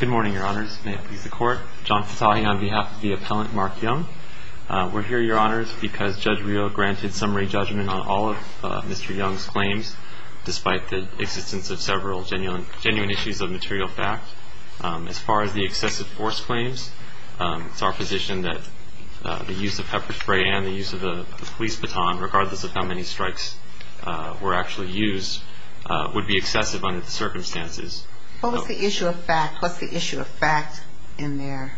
Good morning, Your Honors. May it please the Court. John Fitahi on behalf of the appellant Mark Young. We're here, Your Honors, because Judge Rio granted summary judgment on all of Mr. Young's claims, despite the existence of several genuine issues of material fact. As far as the excessive force claims, it's our position that the use of pepper spray and the use of the police baton, regardless of how many strikes were actually used, would be excessive under the circumstances. What was the issue of fact? What's the issue of fact in there?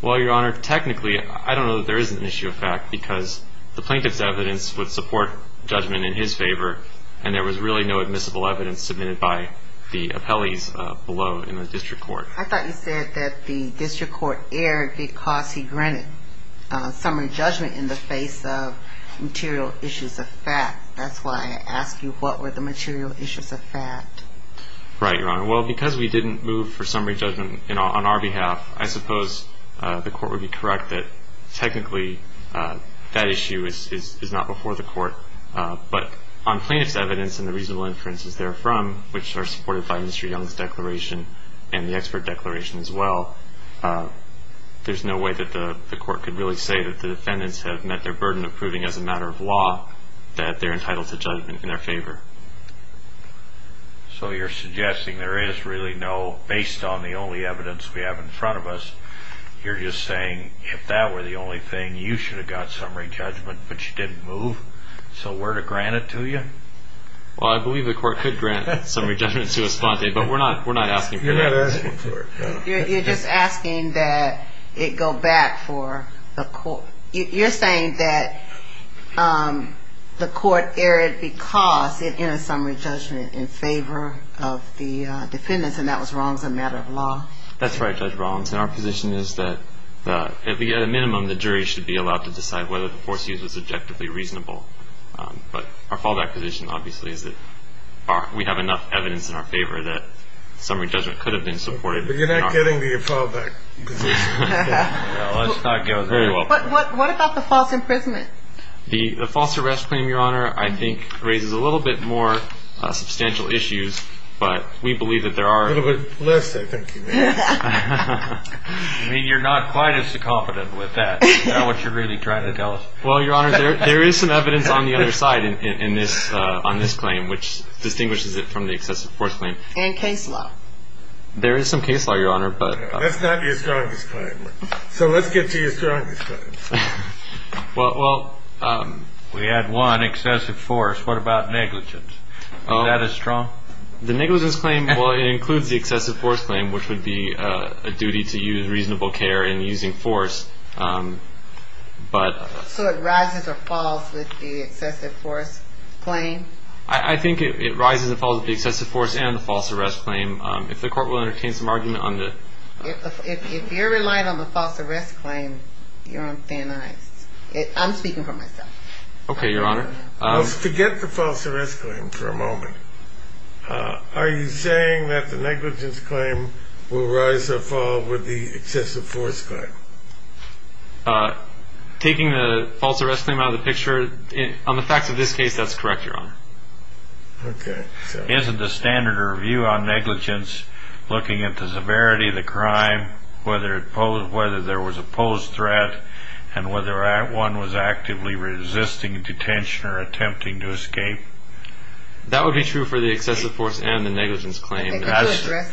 Well, Your Honor, technically, I don't know that there is an issue of fact, because the plaintiff's evidence would support judgment in his favor, and there was really no admissible evidence submitted by the appellees below in the district court. I thought you said that the district court erred because he granted summary judgment in the face of material issues of fact. That's why I asked you what were the material issues of fact. Right, Your Honor. Well, because we didn't move for summary judgment on our behalf, I suppose the Court would be correct that technically that issue is not before the Court. But on plaintiff's evidence and the reasonable inferences therefrom, which are supported by Mr. Young's declaration and the expert declaration as well, there's no way that the Court could really say that the defendants have met their burden of proving as a matter of law that they're entitled to judgment in their favor. So you're suggesting there is really no, based on the only evidence we have in front of us, you're just saying if that were the only thing, you should have got summary judgment, but you didn't move? So we're to grant it to you? Well, I believe the Court could grant summary judgment to us, but we're not asking for that. You're just asking that it go back for the Court. You're saying that the Court erred because it entered summary judgment in favor of the defendants, and that was wrong as a matter of law? That's right, Judge Rollins. And our position is that at a minimum the jury should be allowed to decide whether the force used was objectively reasonable. But our fallback position obviously is that we have enough evidence in our favor that summary judgment could have been supported. But you're not getting the fallback position. That goes very well. But what about the false imprisonment? The false arrest claim, Your Honor, I think raises a little bit more substantial issues, but we believe that there are. A little bit less, I think you mean. I mean, you're not quite as confident with that. Is that what you're really trying to tell us? Well, Your Honor, there is some evidence on the other side on this claim, which distinguishes it from the excessive force claim. And case law? There is some case law, Your Honor, but. That's not your strongest claim. So let's get to your strongest claim. Well, we had one, excessive force. What about negligence? Is that as strong? The negligence claim, well, it includes the excessive force claim, which would be a duty to use reasonable care in using force, but. So it rises or falls with the excessive force claim? I think it rises and falls with the excessive force and the false arrest claim. If the court will entertain some argument on the. If you're relying on the false arrest claim, you're on thin ice. I'm speaking for myself. Okay, Your Honor. Let's forget the false arrest claim for a moment. Are you saying that the negligence claim will rise or fall with the excessive force claim? Taking the false arrest claim out of the picture, on the facts of this case, that's correct, Your Honor. Okay. Isn't the standard review on negligence looking at the severity of the crime, whether there was a posed threat, and whether one was actively resisting detention or attempting to escape? That would be true for the excessive force and the negligence claim.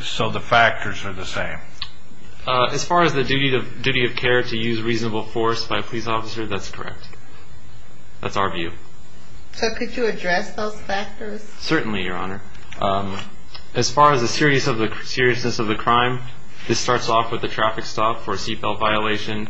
So the factors are the same. As far as the duty of care to use reasonable force by a police officer, that's correct. That's our view. So could you address those factors? Certainly, Your Honor. As far as the seriousness of the crime, this starts off with the traffic stop for a seat belt violation.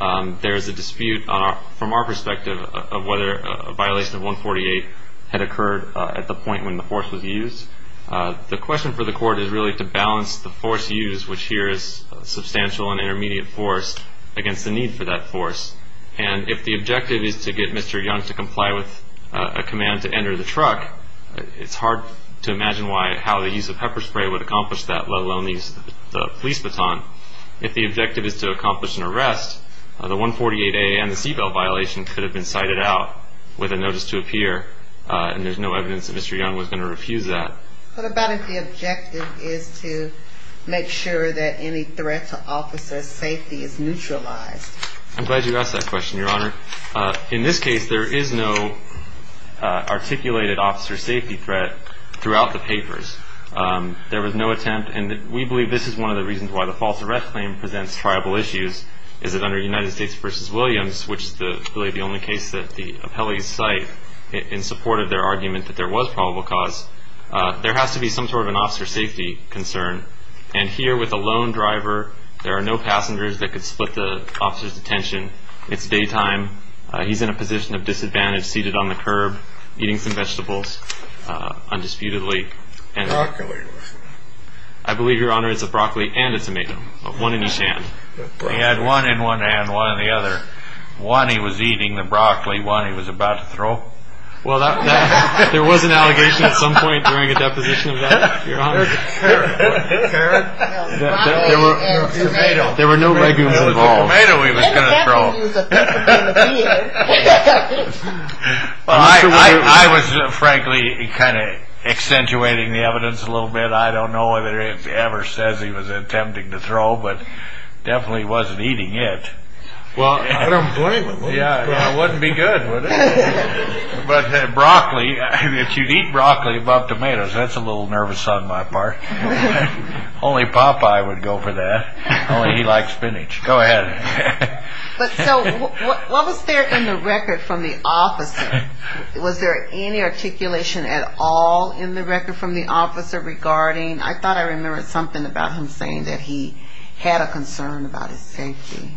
There is a dispute from our perspective of whether a violation of 148 had occurred at the point when the force was used. The question for the court is really to balance the force used, which here is substantial and intermediate force, against the need for that force. And if the objective is to get Mr. Young to comply with a command to enter the truck, it's hard to imagine how the use of pepper spray would accomplish that, let alone the use of the police baton. If the objective is to accomplish an arrest, the 148A and the seat belt violation could have been cited out with a notice to appear, and there's no evidence that Mr. Young was going to refuse that. What about if the objective is to make sure that any threat to officers' safety is neutralized? I'm glad you asked that question, Your Honor. In this case, there is no articulated officer safety threat throughout the papers. There was no attempt, and we believe this is one of the reasons why the false arrest claim presents tribal issues, is that under United States v. Williams, which is, I believe, the only case that the appellees cite in support of their argument that there was probable cause, there has to be some sort of an officer safety concern. And here with a lone driver, there are no passengers that could split the officer's attention. It's daytime. He's in a position of disadvantage seated on the curb eating some vegetables undisputedly. Broccoli. I believe, Your Honor, it's a broccoli and a tomato, one in each hand. He had one in one hand, one in the other. Well, there was an allegation at some point during a deposition of that, Your Honor. There was a carrot and a tomato. There were no legumes involved. It was a tomato he was going to throw. I was, frankly, kind of accentuating the evidence a little bit. I don't know whether it ever says he was attempting to throw, but definitely wasn't eating it. I don't blame him. Yeah, it wouldn't be good, would it? But broccoli, if you'd eat broccoli above tomatoes, that's a little nervous on my part. Only Popeye would go for that. Only he likes spinach. Go ahead. So what was there in the record from the officer? Was there any articulation at all in the record from the officer regarding? I thought I remembered something about him saying that he had a concern about his safety.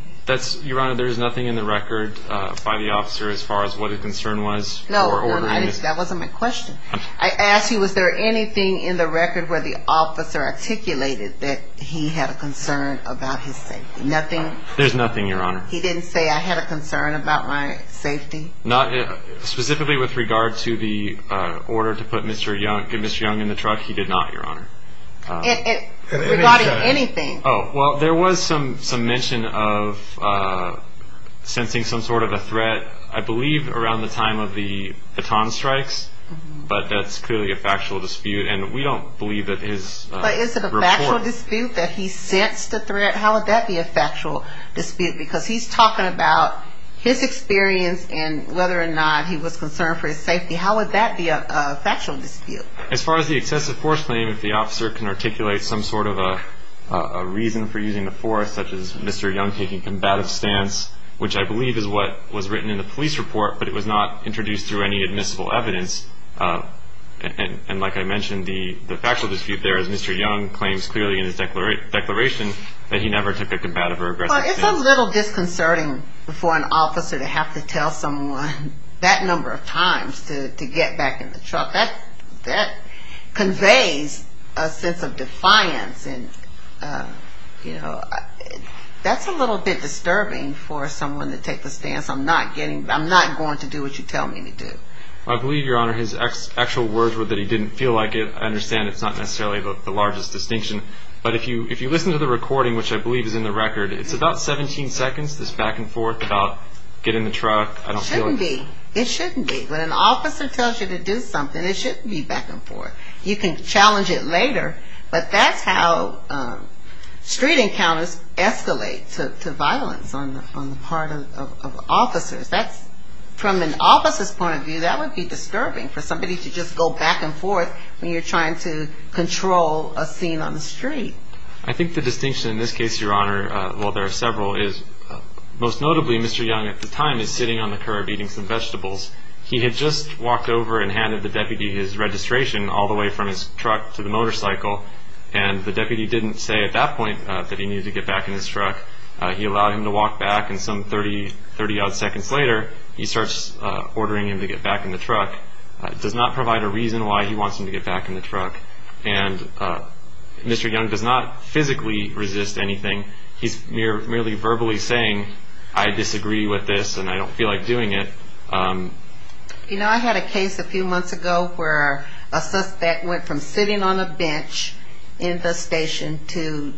Your Honor, there is nothing in the record by the officer as far as what his concern was? No, that wasn't my question. I asked you was there anything in the record where the officer articulated that he had a concern about his safety. Nothing? There's nothing, Your Honor. He didn't say I had a concern about my safety? Specifically with regard to the order to put Mr. Young in the truck, he did not, Your Honor. Regarding anything? Oh, well, there was some mention of sensing some sort of a threat, I believe around the time of the baton strikes, but that's clearly a factual dispute, and we don't believe that his report. But is it a factual dispute that he sensed a threat? How would that be a factual dispute? Because he's talking about his experience and whether or not he was concerned for his safety. How would that be a factual dispute? As far as the excessive force claim, if the officer can articulate some sort of a reason for using the force, such as Mr. Young taking a combative stance, which I believe is what was written in the police report, but it was not introduced through any admissible evidence, and like I mentioned, the factual dispute there is Mr. Young claims clearly in his declaration that he never took a combative or aggressive stance. It's a little disconcerting for an officer to have to tell someone that number of times to get back in the truck. That conveys a sense of defiance, and that's a little bit disturbing for someone to take the stance, I'm not going to do what you tell me to do. I believe, Your Honor, his actual words were that he didn't feel like it. I understand it's not necessarily the largest distinction, but if you listen to the recording, which I believe is in the record, it's about 17 seconds, this back and forth about getting in the truck. It shouldn't be. When an officer tells you to do something, it shouldn't be back and forth. You can challenge it later, but that's how street encounters escalate to violence on the part of officers. From an officer's point of view, that would be disturbing for somebody to just go back and forth when you're trying to control a scene on the street. I think the distinction in this case, Your Honor, while there are several, most notably Mr. Young at the time is sitting on the curb eating some vegetables. He had just walked over and handed the deputy his registration all the way from his truck to the motorcycle, and the deputy didn't say at that point that he needed to get back in his truck. He allowed him to walk back, and some 30-odd seconds later, he starts ordering him to get back in the truck. It does not provide a reason why he wants him to get back in the truck. And Mr. Young does not physically resist anything. He's merely verbally saying, I disagree with this, and I don't feel like doing it. You know, I had a case a few months ago where a suspect went from sitting on a bench in the station to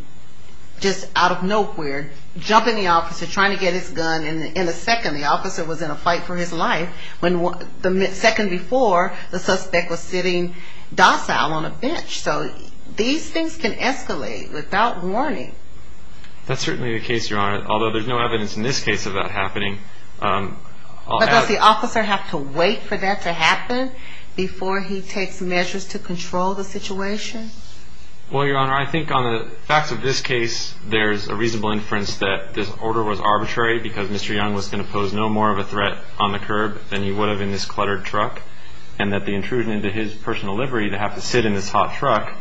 just out of nowhere, jumping the officer, trying to get his gun, and in a second, the officer was in a fight for his life. The second before, the suspect was sitting docile on a bench. So these things can escalate without warning. That's certainly the case, Your Honor, although there's no evidence in this case of that happening. But does the officer have to wait for that to happen before he takes measures to control the situation? Well, Your Honor, I think on the facts of this case, there's a reasonable inference that this order was arbitrary because Mr. Young was going to pose no more of a threat on the curb than he would have in this cluttered truck, and that the intrusion into his personal livery to have to sit in this hot truck,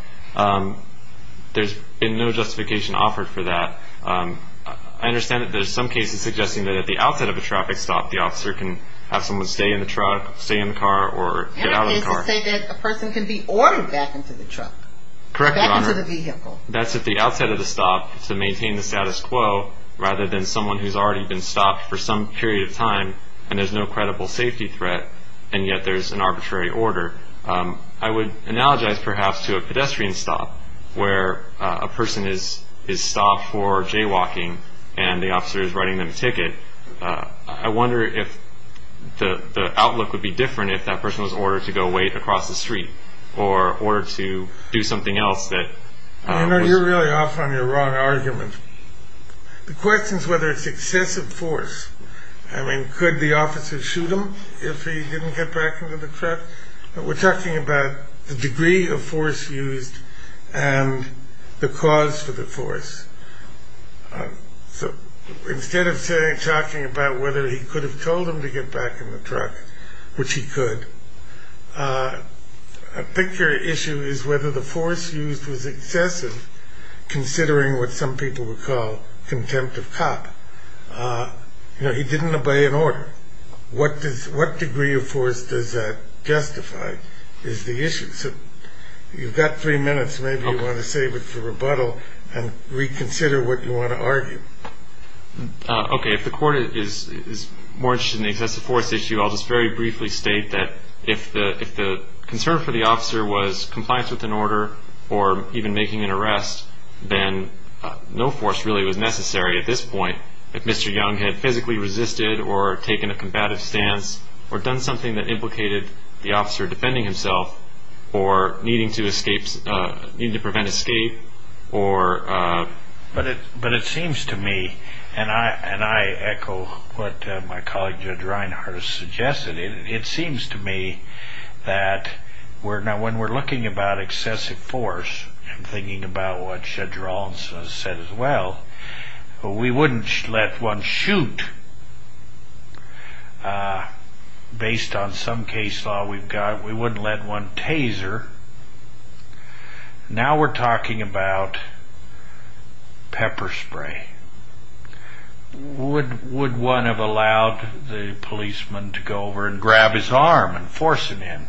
there's been no justification offered for that. I understand that there's some cases suggesting that at the outset of a traffic stop, the officer can have someone stay in the truck, stay in the car, or get out of the car. And that is to say that a person can be ordered back into the truck, back into the vehicle. That's at the outset of the stop to maintain the status quo, rather than someone who's already been stopped for some period of time and there's no credible safety threat, and yet there's an arbitrary order. I would analogize, perhaps, to a pedestrian stop where a person is stopped for jaywalking and the officer is writing them a ticket. I wonder if the outlook would be different if that person was ordered to go wait across the street or to do something else that was... You know, you're really off on your wrong argument. The question is whether it's excessive force. I mean, could the officer shoot him if he didn't get back into the truck? We're talking about the degree of force used and the cause for the force. So instead of talking about whether he could have told him to get back in the truck, which he could, I think your issue is whether the force used was excessive, considering what some people would call contempt of cop. You know, he didn't obey an order. What degree of force does that justify is the issue. So you've got three minutes. Maybe you want to save it for rebuttal and reconsider what you want to argue. Okay. If the court is more interested in the excessive force issue, I'll just very briefly state that if the concern for the officer was compliance with an order or even making an arrest, then no force really was necessary at this point. If Mr. Young had physically resisted or taken a combative stance or done something that implicated the officer defending himself or needing to prevent escape or... But it seems to me, and I echo what my colleague Judge Reinhart has suggested, it seems to me that when we're looking about excessive force, I'm thinking about what Judge Rollins has said as well, we wouldn't let one shoot based on some case law we've got. We wouldn't let one taser. Now we're talking about pepper spray. Would one have allowed the policeman to go over and grab his arm and force it in?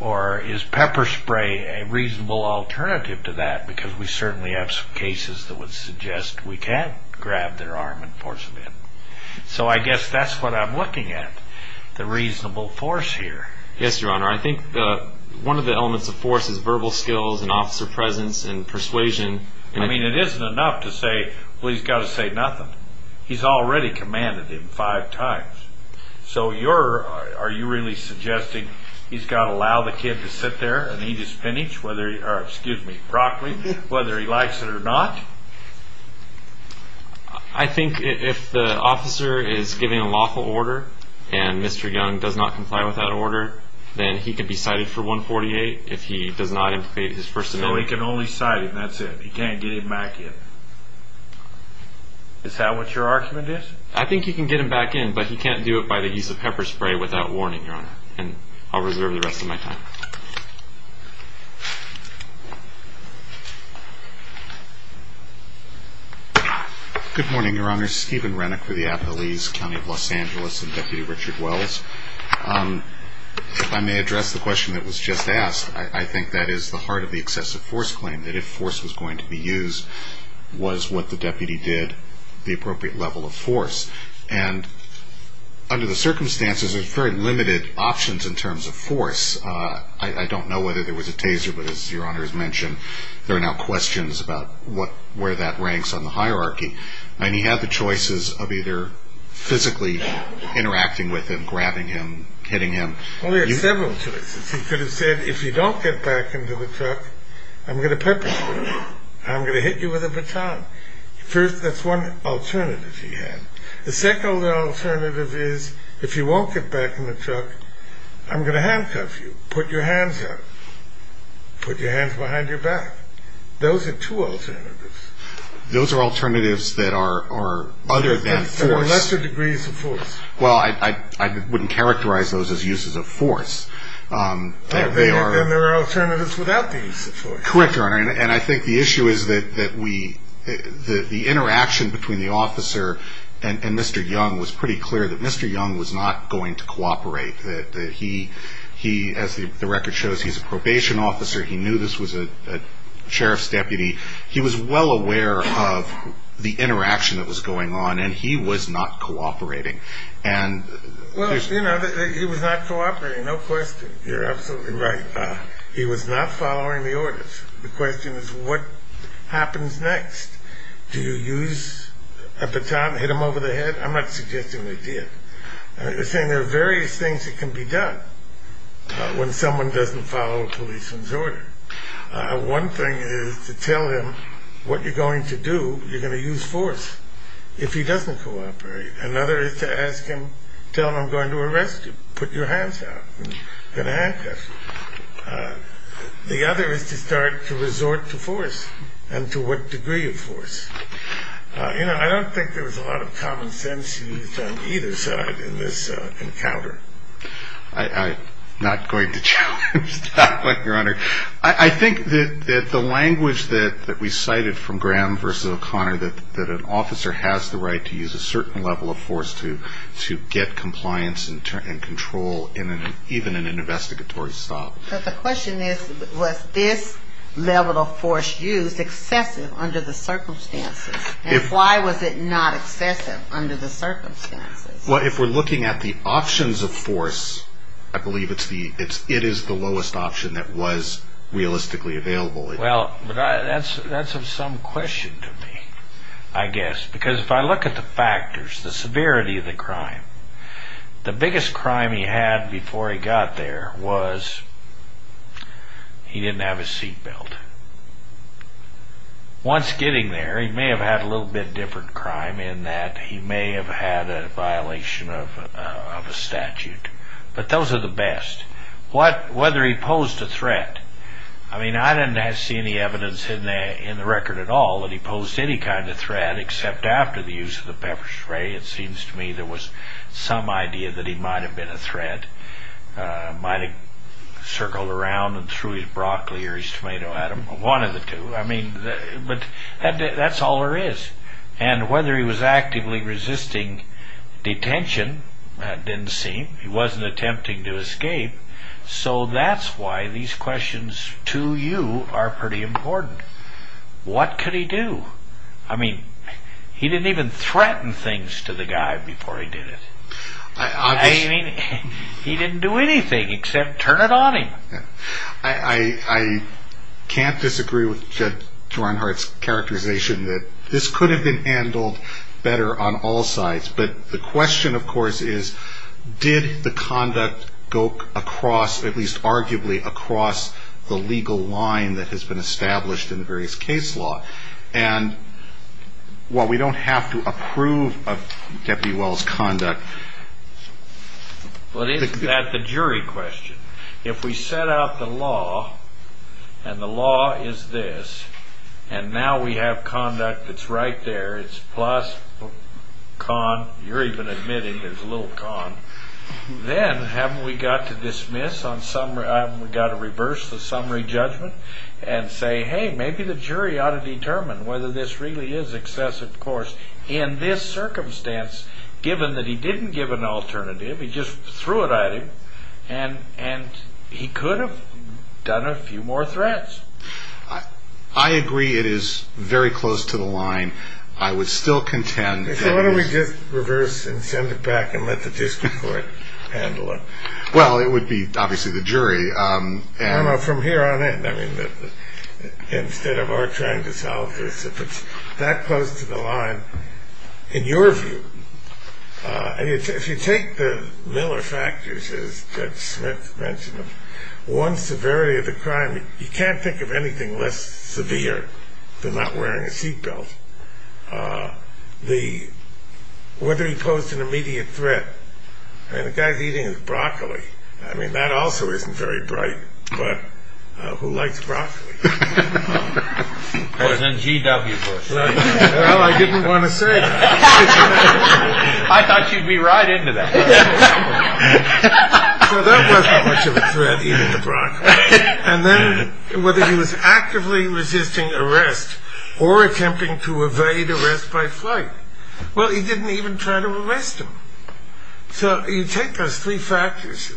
Or is pepper spray a reasonable alternative to that? Because we certainly have some cases that would suggest we can't grab their arm and force it in. So I guess that's what I'm looking at, the reasonable force here. Yes, Your Honor. I think one of the elements of force is verbal skills and officer presence and persuasion. I mean, it isn't enough to say, well, he's got to say nothing. He's already commanded him five times. So are you really suggesting he's got to allow the kid to sit there and eat his spinach, or excuse me, broccoli, whether he likes it or not? I think if the officer is giving a lawful order and Mr. Young does not comply with that order, then he can be cited for 148 if he does not implement his first amendment. So he can only cite him, that's it? He can't get him back in? Is that what your argument is? I think he can get him back in, but he can't do it by the use of pepper spray without warning, Your Honor. And I'll reserve the rest of my time. Good morning, Your Honor. Steven Renick for the Appalese County of Los Angeles and Deputy Richard Wells. If I may address the question that was just asked, I think that is the heart of the excessive force claim, that if force was going to be used, was what the deputy did the appropriate level of force? And under the circumstances, there's very limited options in terms of force. I don't know whether there was a taser, but as Your Honor has mentioned, there are now questions about where that ranks on the hierarchy. And he had the choices of either physically interacting with him, grabbing him, hitting him. Well, he had several choices. He could have said, if you don't get back into the truck, I'm going to pepper spray you. I'm going to hit you with a baton. First, that's one alternative he had. The second alternative is, if you won't get back in the truck, I'm going to handcuff you. Put your hands up. Put your hands behind your back. Those are two alternatives. Those are alternatives that are other than force. Or lesser degrees of force. Well, I wouldn't characterize those as uses of force. Then there are alternatives without the use of force. Correct, Your Honor. And I think the issue is that the interaction between the officer and Mr. Young was pretty clear that Mr. Young was not going to cooperate, that he, as the record shows, he's a probation officer. He knew this was a sheriff's deputy. He was well aware of the interaction that was going on, and he was not cooperating. Well, you know, he was not cooperating, no question. You're absolutely right. He was not following the orders. The question is, what happens next? Do you use a baton, hit him over the head? I'm not suggesting they did. You're saying there are various things that can be done when someone doesn't follow a policeman's order. One thing is to tell him what you're going to do, you're going to use force, if he doesn't cooperate. Another is to ask him, tell him I'm going to arrest you. Put your hands up. I'm going to handcuff you. The other is to start to resort to force, and to what degree of force. You know, I don't think there was a lot of common sense used on either side in this encounter. I'm not going to challenge that one, Your Honor. I think that the language that we cited from Graham versus O'Connor, that an officer has the right to use a certain level of force to get compliance and control even in an investigatory style. But the question is, was this level of force used excessive under the circumstances, and why was it not excessive under the circumstances? Well, if we're looking at the options of force, I believe it is the lowest option that was realistically available. Well, that's of some question to me, I guess, because if I look at the factors, the severity of the crime, the biggest crime he had before he got there was he didn't have his seat belt. Once getting there, he may have had a little bit different crime in that he may have had a violation of a statute. But those are the best. Whether he posed a threat, I mean, I didn't see any evidence in the record at all that he posed any kind of threat except after the use of the pepper spray. It seems to me there was some idea that he might have been a threat, might have circled around and threw his broccoli or his tomato at him, one of the two. But that's all there is. And whether he was actively resisting detention, that didn't seem. He wasn't attempting to escape. So that's why these questions to you are pretty important. What could he do? I mean, he didn't even threaten things to the guy before he did it. I mean, he didn't do anything except turn it on him. I can't disagree with Judge Ron Hart's characterization that this could have been handled better on all sides. But the question, of course, is did the conduct go across, at least arguably across the legal line that has been established in the various case law? And, well, we don't have to approve of Deputy Well's conduct. But is that the jury question? If we set out the law, and the law is this, and now we have conduct that's right there, it's plus, con, you're even admitting there's a little con, then haven't we got to reverse the summary judgment and say, hey, maybe the jury ought to determine whether this really is excessive, of course, in this circumstance, given that he didn't give an alternative. He just threw it at him. And he could have done a few more threats. I agree it is very close to the line. I would still contend that it is. So why don't we just reverse and send it back and let the district court handle it? Well, it would be, obviously, the jury. No, no, from here on in, I mean, instead of our trying to solve this, if it's that close to the line, in your view, if you take the Miller factors, as Judge Smith mentioned, one severity of the crime, you can't think of anything less severe than not wearing a seat belt. Whether he posed an immediate threat, I mean, the guy's eating his broccoli. I mean, that also isn't very bright. But who likes broccoli? Well, I didn't want to say that. I thought you'd be right into that. So that wasn't much of a threat, eating the broccoli. And then whether he was actively resisting arrest or attempting to evade arrest by flight. Well, he didn't even try to arrest him. So you take those three factors.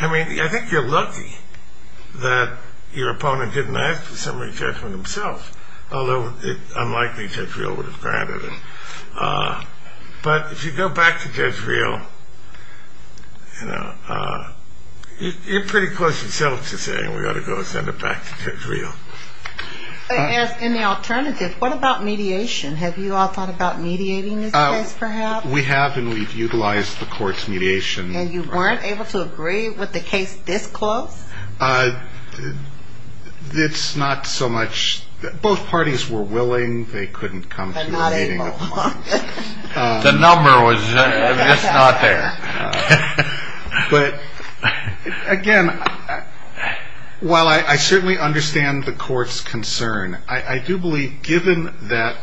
I mean, I think you're lucky that your opponent didn't ask the summary judgment himself, although it's unlikely Judge Reel would have granted it. But if you go back to Judge Reel, you're pretty close yourself to saying we ought to go send it back to Judge Reel. As an alternative, what about mediation? We have, and we've utilized the court's mediation. And you weren't able to agree with the case this close? It's not so much. Both parties were willing. They couldn't come to a meeting. The number was just not there. But, again, while I certainly understand the court's concern, I do believe given that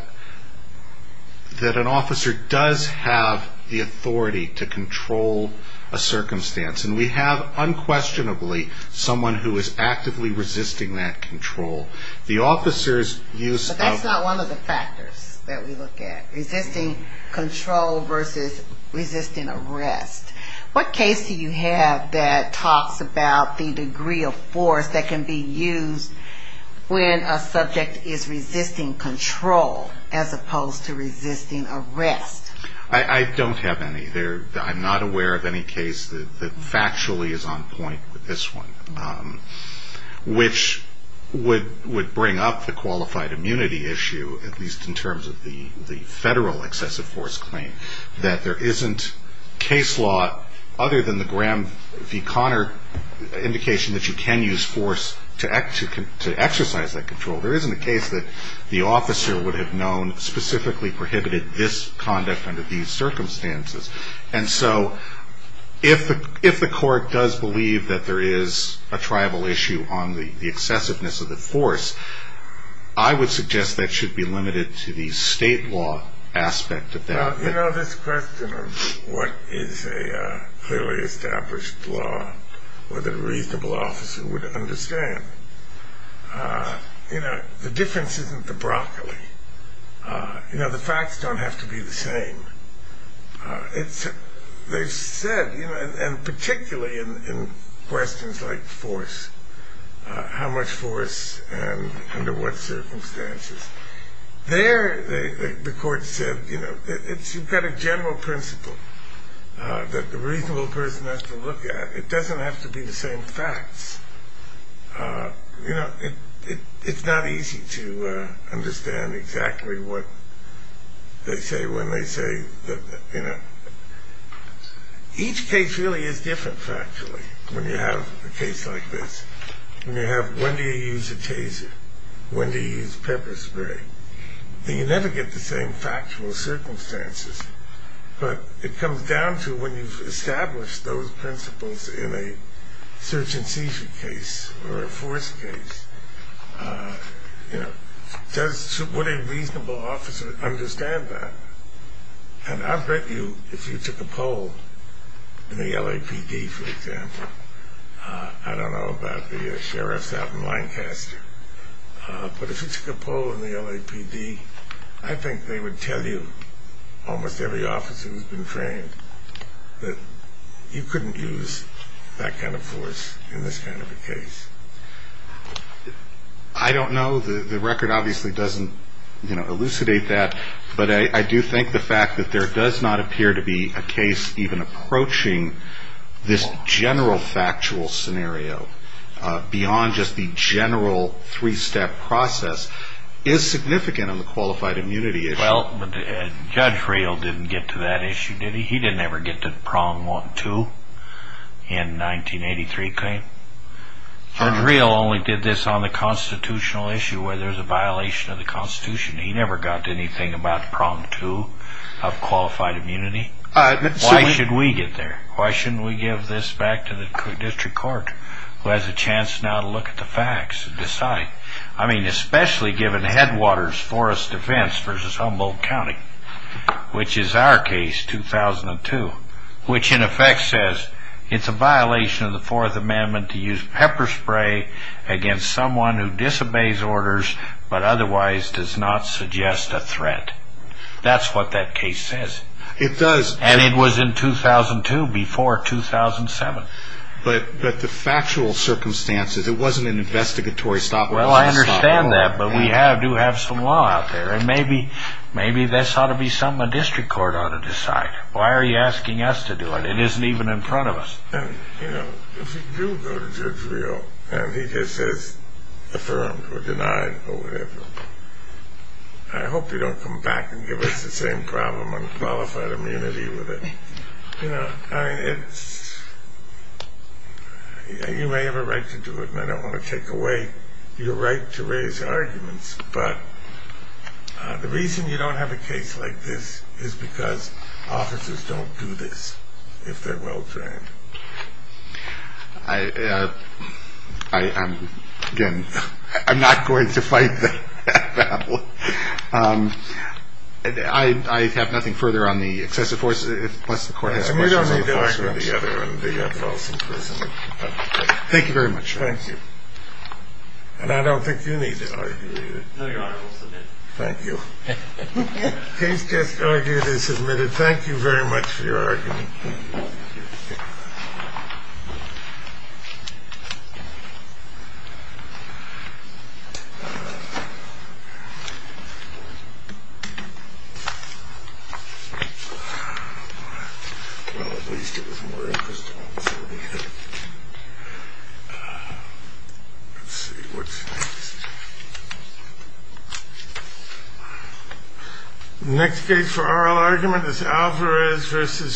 an officer does have the authority to control a circumstance, and we have unquestionably someone who is actively resisting that control, the officer's use of the But that's not one of the factors that we look at, resisting control versus resisting arrest. What case do you have that talks about the degree of force that can be used when a subject is resisting control as opposed to resisting arrest? I don't have any. I'm not aware of any case that factually is on point with this one, which would bring up the qualified immunity issue, at least in terms of the federal excessive force claim, that there isn't case law other than the Graham v. Connor indication that you can use force to exercise that control. There isn't a case that the officer would have known specifically prohibited this conduct under these circumstances. And so if the court does believe that there is a tribal issue on the excessiveness of the force, I would suggest that should be limited to the state law aspect of that. You know, this question of what is a clearly established law, whether a reasonable officer would understand, the difference isn't the broccoli. The facts don't have to be the same. They've said, and particularly in questions like force, how much force and under what circumstances, there the court said, you know, you've got a general principle that the reasonable person has to look at. It doesn't have to be the same facts. You know, it's not easy to understand exactly what they say when they say, you know. Each case really is different factually when you have a case like this, when you have when do you use a taser, when do you use pepper spray. You never get the same factual circumstances, but it comes down to when you've established those principles in a search and seizure case or a force case, you know, would a reasonable officer understand that? And I bet you if you took a poll in the LAPD, for example, I don't know about the sheriffs out in Lancaster, but if you took a poll in the LAPD, I think they would tell you, almost every officer who's been trained, that you couldn't use that kind of force in this kind of a case. I don't know. The record obviously doesn't, you know, elucidate that, but I do think the fact that there does not appear to be a case even approaching this general factual scenario, beyond just the general three-step process, is significant on the qualified immunity issue. Well, Judge Real didn't get to that issue, did he? He didn't ever get to the Prom 1-2 in 1983 claim. Judge Real only did this on the constitutional issue where there's a violation of the Constitution. He never got to anything about Prom 2 of qualified immunity. Why should we get there? Why shouldn't we give this back to the district court, who has a chance now to look at the facts and decide? I mean, especially given Headwaters Forest Defense v. Humboldt County, which is our case, 2002, which in effect says it's a violation of the Fourth Amendment to use pepper spray against someone who disobeys orders but otherwise does not suggest a threat. That's what that case says. It does. And it was in 2002, before 2007. But the factual circumstances, it wasn't an investigatory stopgap. Well, I understand that, but we do have some law out there, and maybe this ought to be something the district court ought to decide. Why are you asking us to do it? It isn't even in front of us. And, you know, if you do go to Judge Reo and he just says affirmed or denied or whatever, I hope you don't come back and give us the same problem on qualified immunity with it. You know, I mean, it's you may have a right to do it, and I don't want to take away your right to raise arguments, but the reason you don't have a case like this is because officers don't do this if they're well-trained. I am, again, I'm not going to fight that battle. I have nothing further on the excessive force, plus the court has questions on the other and the false imprisonment. Thank you. And I don't think you need to argue either. No, Your Honor, we'll submit. Thank you. Case just argued and submitted. Thank you very much for your argument. Well, at least it was more interesting. Let's see what's next. Next case for oral argument is Alvarez versus Chevron.